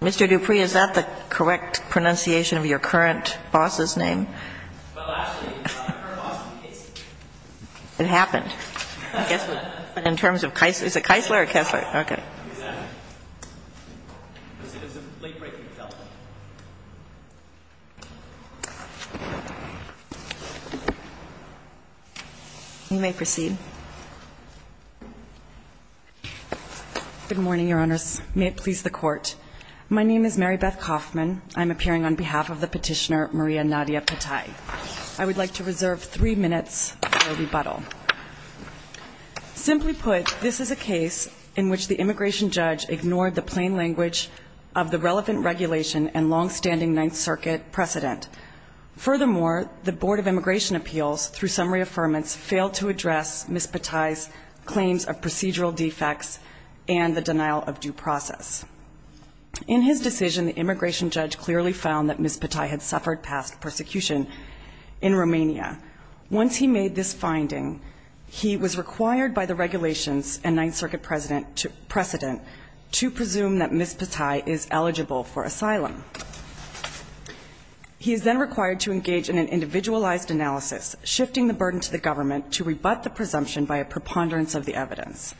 Mr. Dupree, is that the correct pronunciation of your current boss's name? Well, actually, it's my current boss's name. It happened. I guess in terms of Keisler. Is it Keisler or Kessler? Keisler. Okay. Exactly. It was a late-breaking development. You may proceed. Good morning, Your Honors. May it please the Court. My name is Mary Beth Kauffman. I'm appearing on behalf of the petitioner, Maria Nadia Patai. I would like to reserve three minutes for rebuttal. Simply put, this is a case in which the immigration judge ignored the plain language of the relevant regulation and longstanding Ninth Circuit precedent. Furthermore, the Board of Immigration Appeals, through summary affirmance, failed to address Ms. Patai's claims of procedural defects and the denial of due process. In his decision, the immigration judge clearly found that Ms. Patai had suffered past persecution in Romania. Once he made this finding, he was required by the regulations and Ninth Circuit precedent to presume that Ms. Patai is eligible for asylum. He is then required to engage in an individualized analysis, shifting the burden to the government to rebut the presumption by a preponderance of the evidence.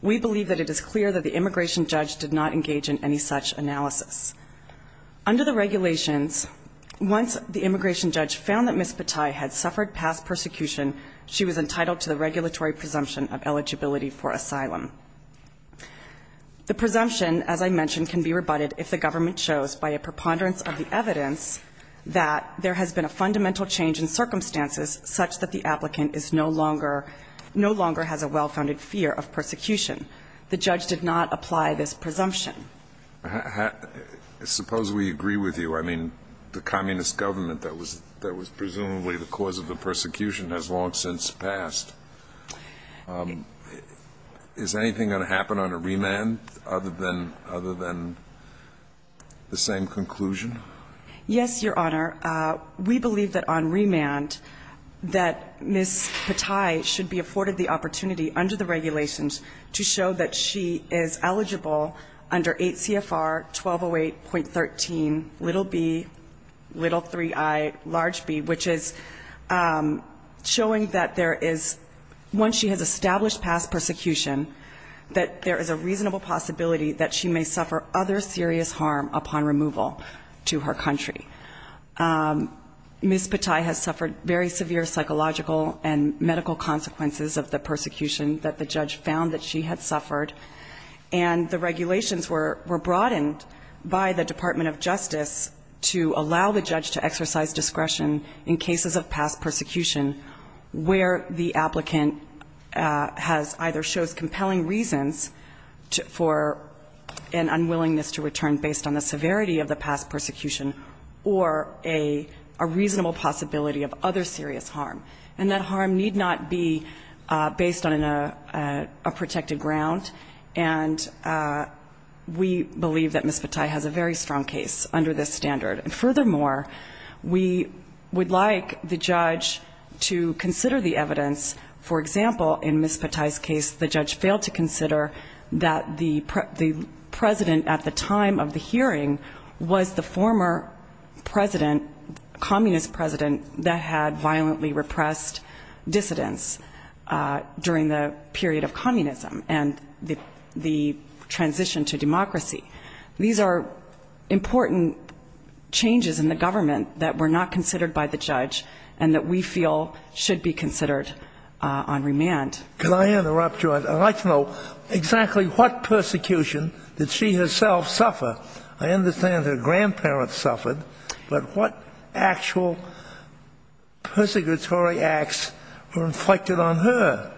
We believe that it is clear that the immigration judge did not engage in any such analysis. Under the regulations, once the immigration judge found that Ms. Patai had suffered past persecution, she was entitled to the regulatory presumption of eligibility for asylum. The presumption, as I mentioned, can be rebutted if the government shows by a preponderance of the evidence that there has been a fundamental change in circumstances such that the applicant is no longer – no longer has a well-founded fear of persecution. The judge did not apply this presumption. Suppose we agree with you. I mean, the communist government that was presumably the cause of the persecution has long since passed. Is anything going to happen on a remand other than – other than the same conclusion? Yes, Your Honor. We believe that on remand that Ms. Patai should be afforded the opportunity under the regulations to show that she is eligible under 8 CFR 1208.13 little b, little 3i large b, which is showing that there is – once she has established past persecution, that there is a reasonable possibility that she may suffer other serious harm upon removal to her country. Ms. Patai has suffered very severe psychological and medical consequences of the persecution that the judge found that she had suffered. And the regulations were – were broadened by the Department of Justice to allow the judge to exercise discretion in cases of past persecution where the applicant has – either shows compelling reasons for an unwillingness to return based on the severity of the past persecution or a reasonable possibility of other serious harm. And that harm need not be based on a protected ground. And we believe that Ms. Patai has a very strong case under this standard. And furthermore, we would like the judge to consider the evidence. For example, in Ms. Patai's case, the judge failed to consider that the president at the time of the hearing was the former president, communist president, that had violently repressed dissidents during the period of communism and the transition to democracy. These are important changes in the government that were not considered by the judge and that we feel should be considered on remand. Could I interrupt you? I'd like to know exactly what persecution did she herself suffer? I understand her grandparents suffered, but what actual persecutory acts were inflicted on her?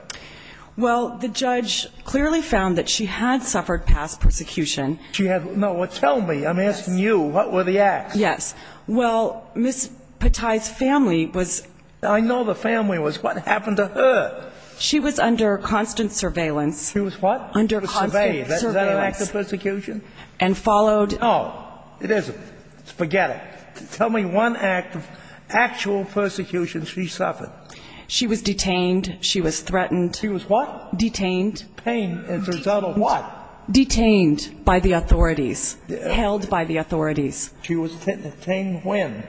Well, the judge clearly found that she had suffered past persecution. She had – no, well, tell me. I'm asking you. What were the acts? Yes. Well, Ms. Patai's family was – I know the family was. What happened to her? She was under constant surveillance. She was what? Under constant surveillance. Was that an act of persecution? And followed – No. It isn't. Forget it. Tell me one act of actual persecution she suffered. She was detained. She was threatened. She was what? Detained. Pain as a result of what? Detained by the authorities. Held by the authorities. She was detained when?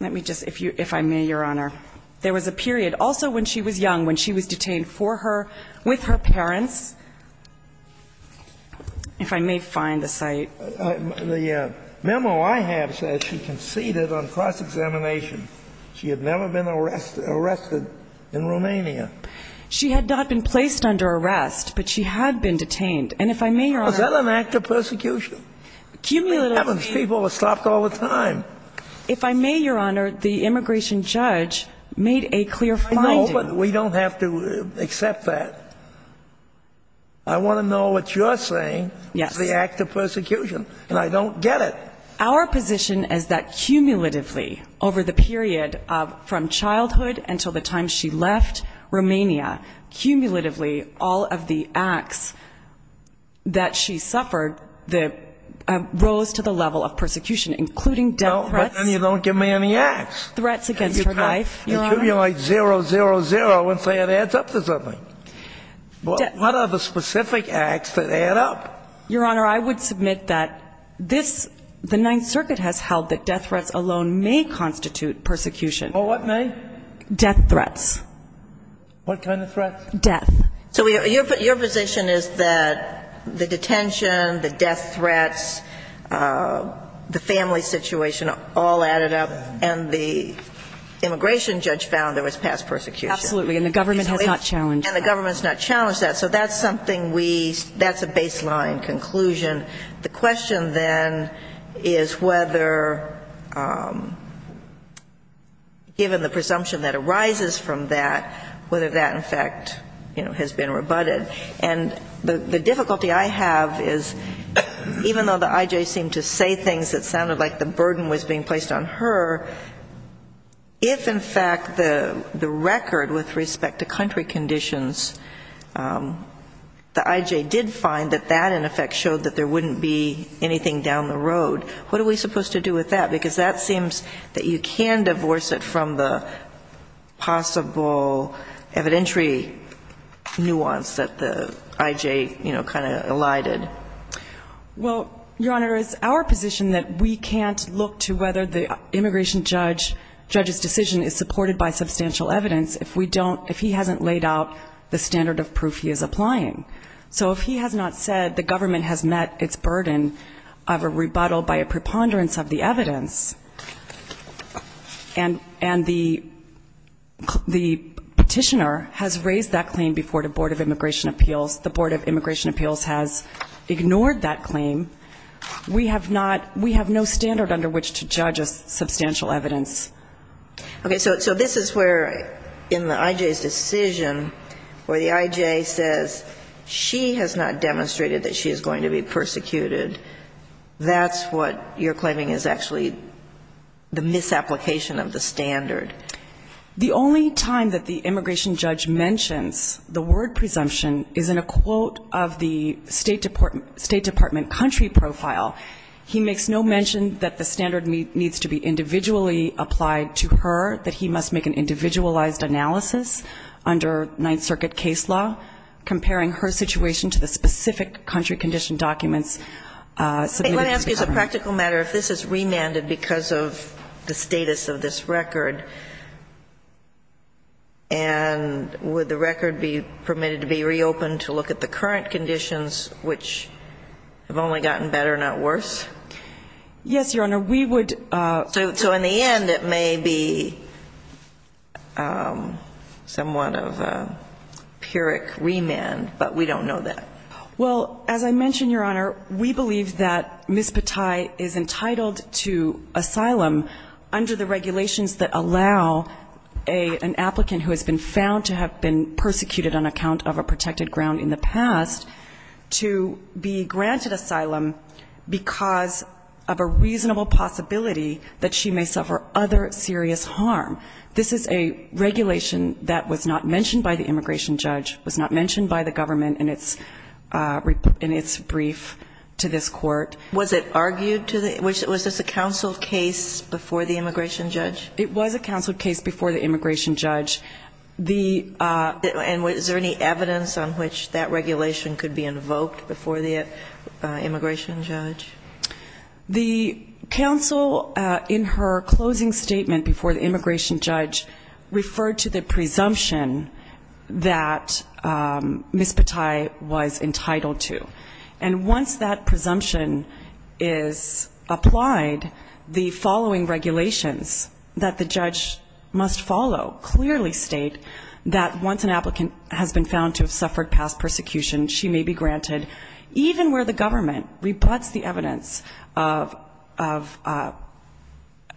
Let me just – if I may, Your Honor. There was a period also when she was young, when she was detained for her – with her parents. If I may find the cite. The memo I have says she conceded on cross-examination. She had never been arrested in Romania. She had not been placed under arrest, but she had been detained. And if I may, Your Honor – Was that an act of persecution? Cumulatively – Heaven's people were stopped all the time. If I may, Your Honor, the immigration judge made a clear finding. I know, but we don't have to accept that. I want to know what you're saying is the act of persecution. And I don't get it. Our position is that cumulatively, over the period from childhood until the time she left Romania, cumulatively, all of the acts that she suffered rose to the level of persecution, including death threats. No, but then you don't give me any acts. Threats against her life, Your Honor. You accumulate zero, zero, zero and say it adds up to something. What are the specific acts that add up? Your Honor, I would submit that this – the Ninth Circuit has held that death threats alone may constitute persecution. Well, what may? Death threats. What kind of threats? Death. So your position is that the detention, the death threats, the family situation all added up, and the immigration judge found there was past persecution. Absolutely. And the government has not challenged that. And the government has not challenged that. So that's something we – that's a baseline conclusion. The question then is whether, given the presumption that arises from that, whether that, in fact, has been rebutted. And the difficulty I have is even though the I.J. seemed to say things that sounded like the burden was being placed on her, if, in fact, the record with respect to country conditions, the I.J. did find that that, in effect, showed that there wouldn't be anything down the road, what are we supposed to do with that? Because that seems that you can divorce it from the possible evidentiary nuance that the I.J., you know, kind of elided. Well, Your Honor, it's our position that we can't look to whether the immigration judge's decision is supported by substantial evidence if we don't – if he hasn't laid out the standard of proof he is applying. So if he has not said the government has met its burden of a rebuttal by a preponderance of the evidence, and the petitioner has raised that claim before the Board of Immigration Appeals, the Board of Immigration Appeals has ignored that claim, we have not – we have no standard under which to judge a substantial evidence. Okay. So this is where, in the I.J.'s decision, where the I.J. says she has not demonstrated that she is going to be persecuted, that's what you're claiming is actually the misapplication of the standard. The only time that the immigration judge mentions the word presumption is in a quote of the State Department country profile. He makes no mention that the standard needs to be individually applied to her, that he must make an individualized analysis under Ninth Circuit case law comparing her situation to the specific country condition documents submitted to the government. Let me ask you, as a practical matter, if this is remanded because of the status of this record, and would the record be permitted to be reopened to look at the current conditions, which have only gotten better, not worse? Yes, Your Honor, we would – So in the end, it may be somewhat of a pyrrhic remand, but we don't know that. Well, as I mentioned, Your Honor, we believe that Ms. Patai is entitled to asylum under the regulations that allow an applicant who has been found to have been persecuted on account of a protected ground in the past to be granted asylum because of a reasonable possibility that she may suffer other serious harm. This is a regulation that was not mentioned by the immigration judge, was not mentioned by the government in its brief to this Court. Was it argued to the – was this a counsel case before the immigration judge? It was a counsel case before the immigration judge. And is there any evidence on which that regulation could be invoked before the immigration judge? The counsel in her closing statement before the immigration judge referred to the presumption that Ms. Patai was entitled to. And once that presumption is applied, the following regulations that the judge must follow clearly state that once an applicant has been found to have suffered past persecution, she may be granted, even where the government rebuts the evidence of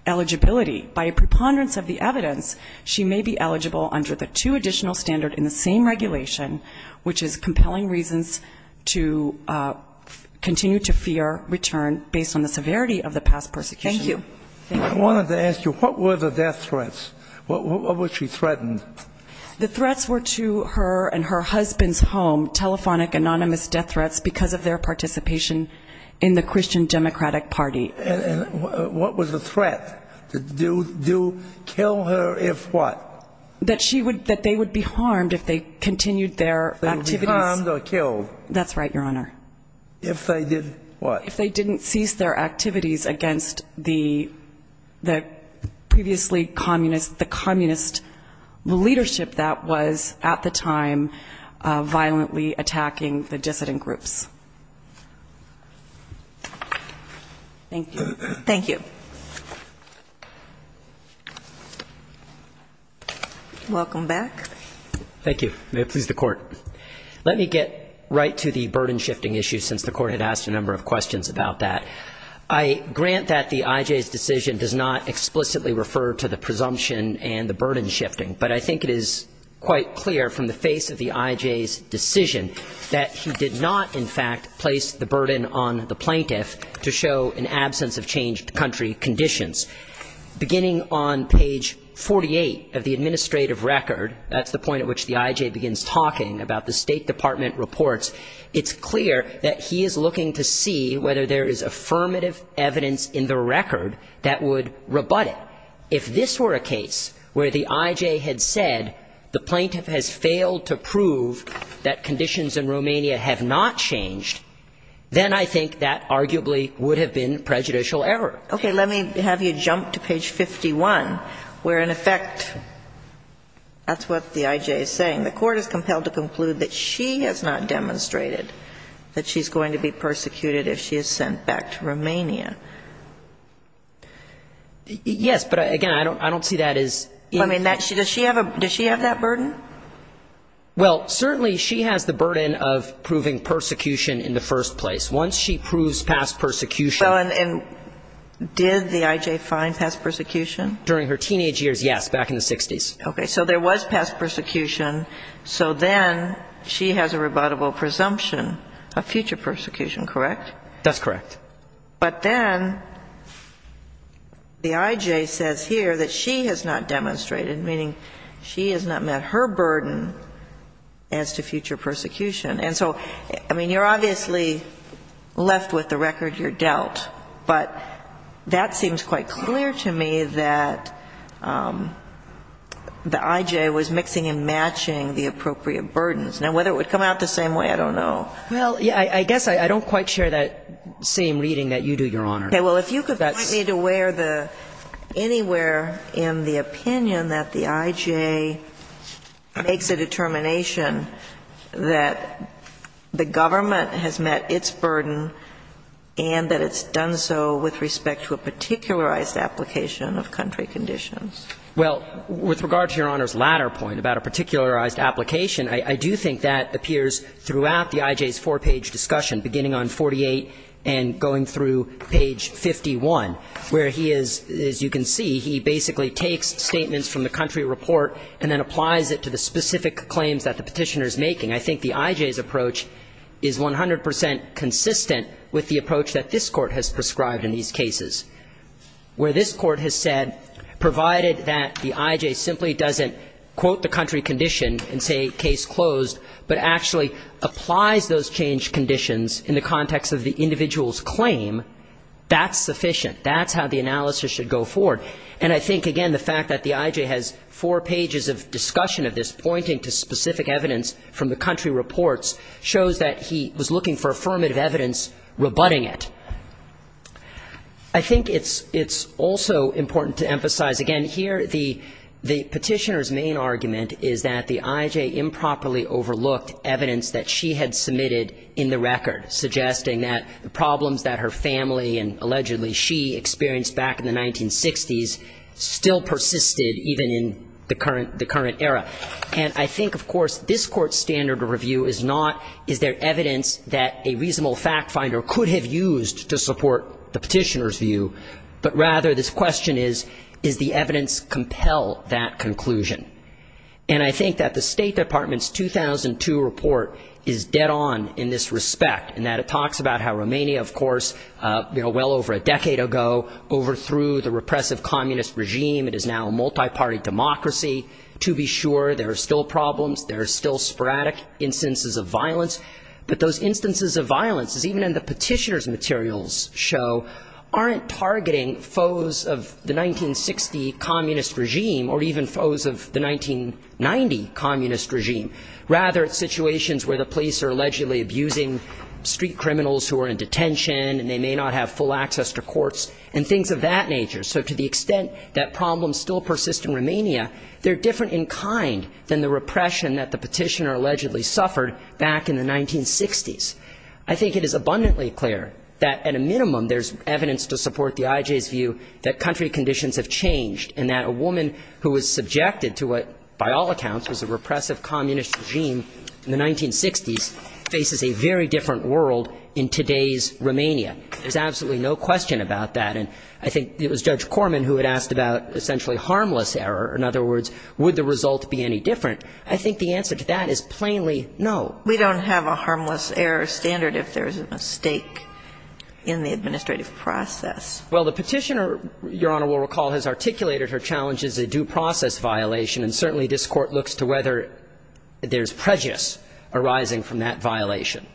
eligibility. By a preponderance of the evidence, she may be eligible under the two additional standard in the same regulation, which is compelling reasons to argue that Ms. Patai may be eligible. And that's why I'm here today. Thank you. Thank you. I wanted to ask you, what were the death threats? What was she threatened? The threats were to her and her husband's home, telephonic, anonymous death threats because of their participation in the Christian Democratic Party. And what was the threat? To do, kill her if what? That she would, that they would be harmed if they continued their activities. They would be harmed or killed. That's right, Your Honor. If they did what? If they didn't cease their activities against the previously communist, the communist leadership that was at the time violently attacking the dissident groups. Thank you. Welcome back. Thank you. May it please the Court. Let me get right to the burden shifting issue since the Court had asked a number of questions about that. I grant that the I.J.'s decision does not explicitly refer to the presumption and the burden shifting, but I think it is quite clear from the face of the I.J.'s decision that he did not, in fact, place the burden on the plaintiff to show an absence of a burden. He did not place the burden on the plaintiff to show an absence of changed country conditions. Beginning on page 48 of the administrative record, that's the point at which the I.J. begins talking about the State Department reports, it's clear that he is looking to see whether there is affirmative evidence in the record that would rebut it. If this were a case where the I.J. had said the plaintiff has failed to prove that conditions in Romania have not changed, then I think that arguably would have been prejudicial to the State Department. And that would have been a pretty substantial error. Okay. Let me have you jump to page 51 where, in effect, that's what the I.J. is saying. The Court is compelled to conclude that she has not demonstrated that she is going to be persecuted if she is sent back to Romania. Yes, but, again, I don't see that as I mean, does she have that burden? Well, certainly she has the burden of proving persecution in the first place. Once she proves past persecution Well, and did the I.J. find past persecution? During her teenage years, yes, back in the 60s. Okay, so there was past persecution, so then she has a rebuttable presumption of future persecution, correct? That's correct. But then the I.J. says here that she has not demonstrated, meaning she has not met her burden as to future persecution. And so, I mean, you're obviously left with the record you're dealt, but that seems quite clear to me that the I.J. was mixing and matching the appropriate burdens. Now, whether it would come out the same way, I don't know. Well, I guess I don't quite share that same reading that you do, Your Honor. Well, if you could point me to where the anywhere in the opinion that the I.J. makes a determination that the government has met its burden and that it's done so with respect to a particularized application of country conditions. Well, with regard to Your Honor's latter point about a particularized application, I do think that appears throughout the I.J.'s four-page discussion beginning on 48 and going through page 51, where he is, as you can see, he basically takes statements from the country report and then applies it to the specific claims that the Petitioner is making. I think the I.J.'s approach is 100 percent consistent with the approach that this Court has prescribed in these cases, where this Court has said, provided that the I.J. simply doesn't quote the country condition and say case closed, but actually applies those changed conditions in the context of the individual's claim, that's sufficient. That's how the analysis should go forward. And I think, again, the fact that the I.J. has four pages of discussion of this pointing to specific evidence from the country reports shows that he was looking for affirmative evidence rebutting it. I think it's also important to emphasize, again, here the Petitioner's main argument is that the I.J. improperly overlooked evidence that she had submitted in the record, suggesting that the problems that her family and allegedly she experienced back in the 1960s still persisted even in the current era. And I think, of course, this Court's standard of review is not, is there evidence that a reasonable fact finder could have used to support the Petitioner's view, but rather this question is, does the evidence compel that conclusion? And I think that the State Department's 2002 report is dead on in this respect, in that it talks about how Romania, of course, well over a decade ago overthrew the repressive communist regime, it is now a multi-party democracy. To be sure, there are still problems, there are still sporadic instances of violence, but those instances of violence, as even in the Petitioner's materials show, aren't targeting foes of the 1960 communist regime or even foes of the 1990 communist regime. Rather, it's situations where the police are allegedly abusing street criminals who are in Romania, things of that nature. So to the extent that problems still persist in Romania, they're different in kind than the repression that the Petitioner allegedly suffered back in the 1960s. I think it is abundantly clear that at a minimum there's evidence to support the IJ's view that country conditions have changed and that a woman who was subjected to what, by all accounts, was a repressive communist regime in the 1960s faces a very different world in today's Romania. There's absolutely no question about that. And I think it was Judge Corman who had asked about essentially harmless error. In other words, would the result be any different? I think the answer to that is plainly no. We don't have a harmless error standard if there's a mistake in the administrative process. Well, the Petitioner, Your Honor will recall, has articulated her challenge as a due process violation, and certainly this Court looks to whether there's prejudice arising from that violation.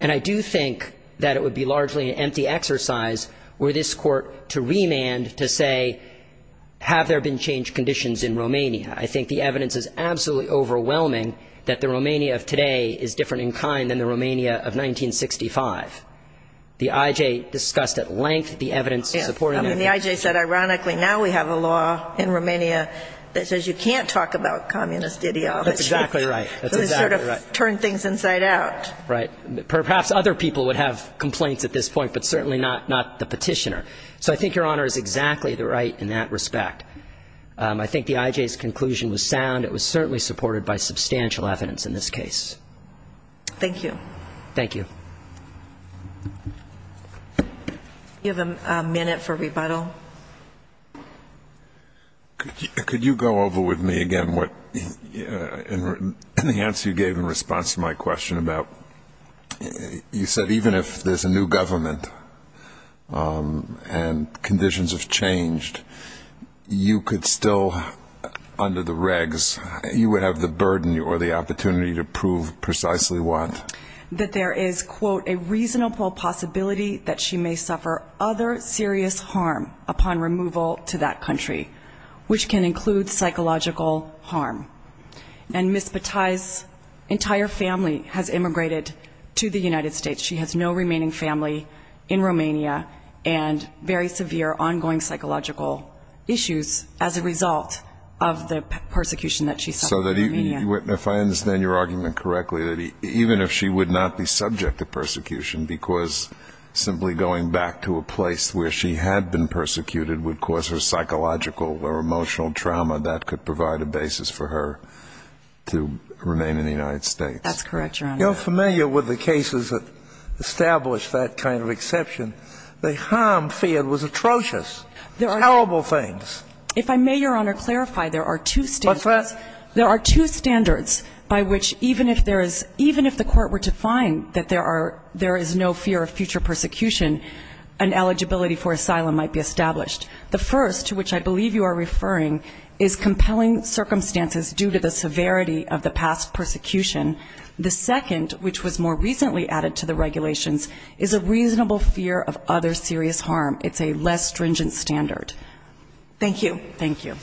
And I do think that it would be largely an empty exercise were this Court to remand to say, have there been changed conditions in Romania? I think the evidence is absolutely overwhelming that the Romania of today is different in kind than the Romania of 1965. The IJ discussed at length the evidence supporting that. I mean, the IJ said, ironically, now we have a law in Romania that says you can't talk about communist ideology. That's exactly right. That's exactly right. Perhaps other people would have complaints at this point, but certainly not the Petitioner. So I think Your Honor is exactly right in that respect. I think the IJ's conclusion was sound. It was certainly supported by substantial evidence in this case. Thank you. Thank you. Do you have a minute for rebuttal? Could you go over with me again what the answer you gave in response to my question about you said even if there's a new government and conditions have changed, you could still, under the regs, you would have the burden or the opportunity to prove precisely what? That there is, quote, a reasonable possibility that she may suffer other serious harm upon removal to that country, which can include psychological harm. And Ms. Bataille's entire family has immigrated to Romania. And to the United States. She has no remaining family in Romania and very severe ongoing psychological issues as a result of the persecution that she suffered in Romania. So if I understand your argument correctly, even if she would not be subject to persecution because simply going back to a place where she had been persecuted would cause her psychological or emotional trauma, that could provide a basis for her to remain in the United States. That's correct, Your Honor. You're familiar with the cases that establish that kind of exception. The harm feared was atrocious. There are terrible things. If I may, Your Honor, clarify, there are two standards. What's that? There are two standards by which even if there is, even if the Court were to find that there are, there is no fear of future persecution, an eligibility for asylum might be established. The first, to which I believe you are referring, is compelling circumstances due to the severity of the past persecution. The second, which was more recently added to the regulations, is a reasonable fear of other serious harm. It's a less stringent standard. Thank you. Thank you.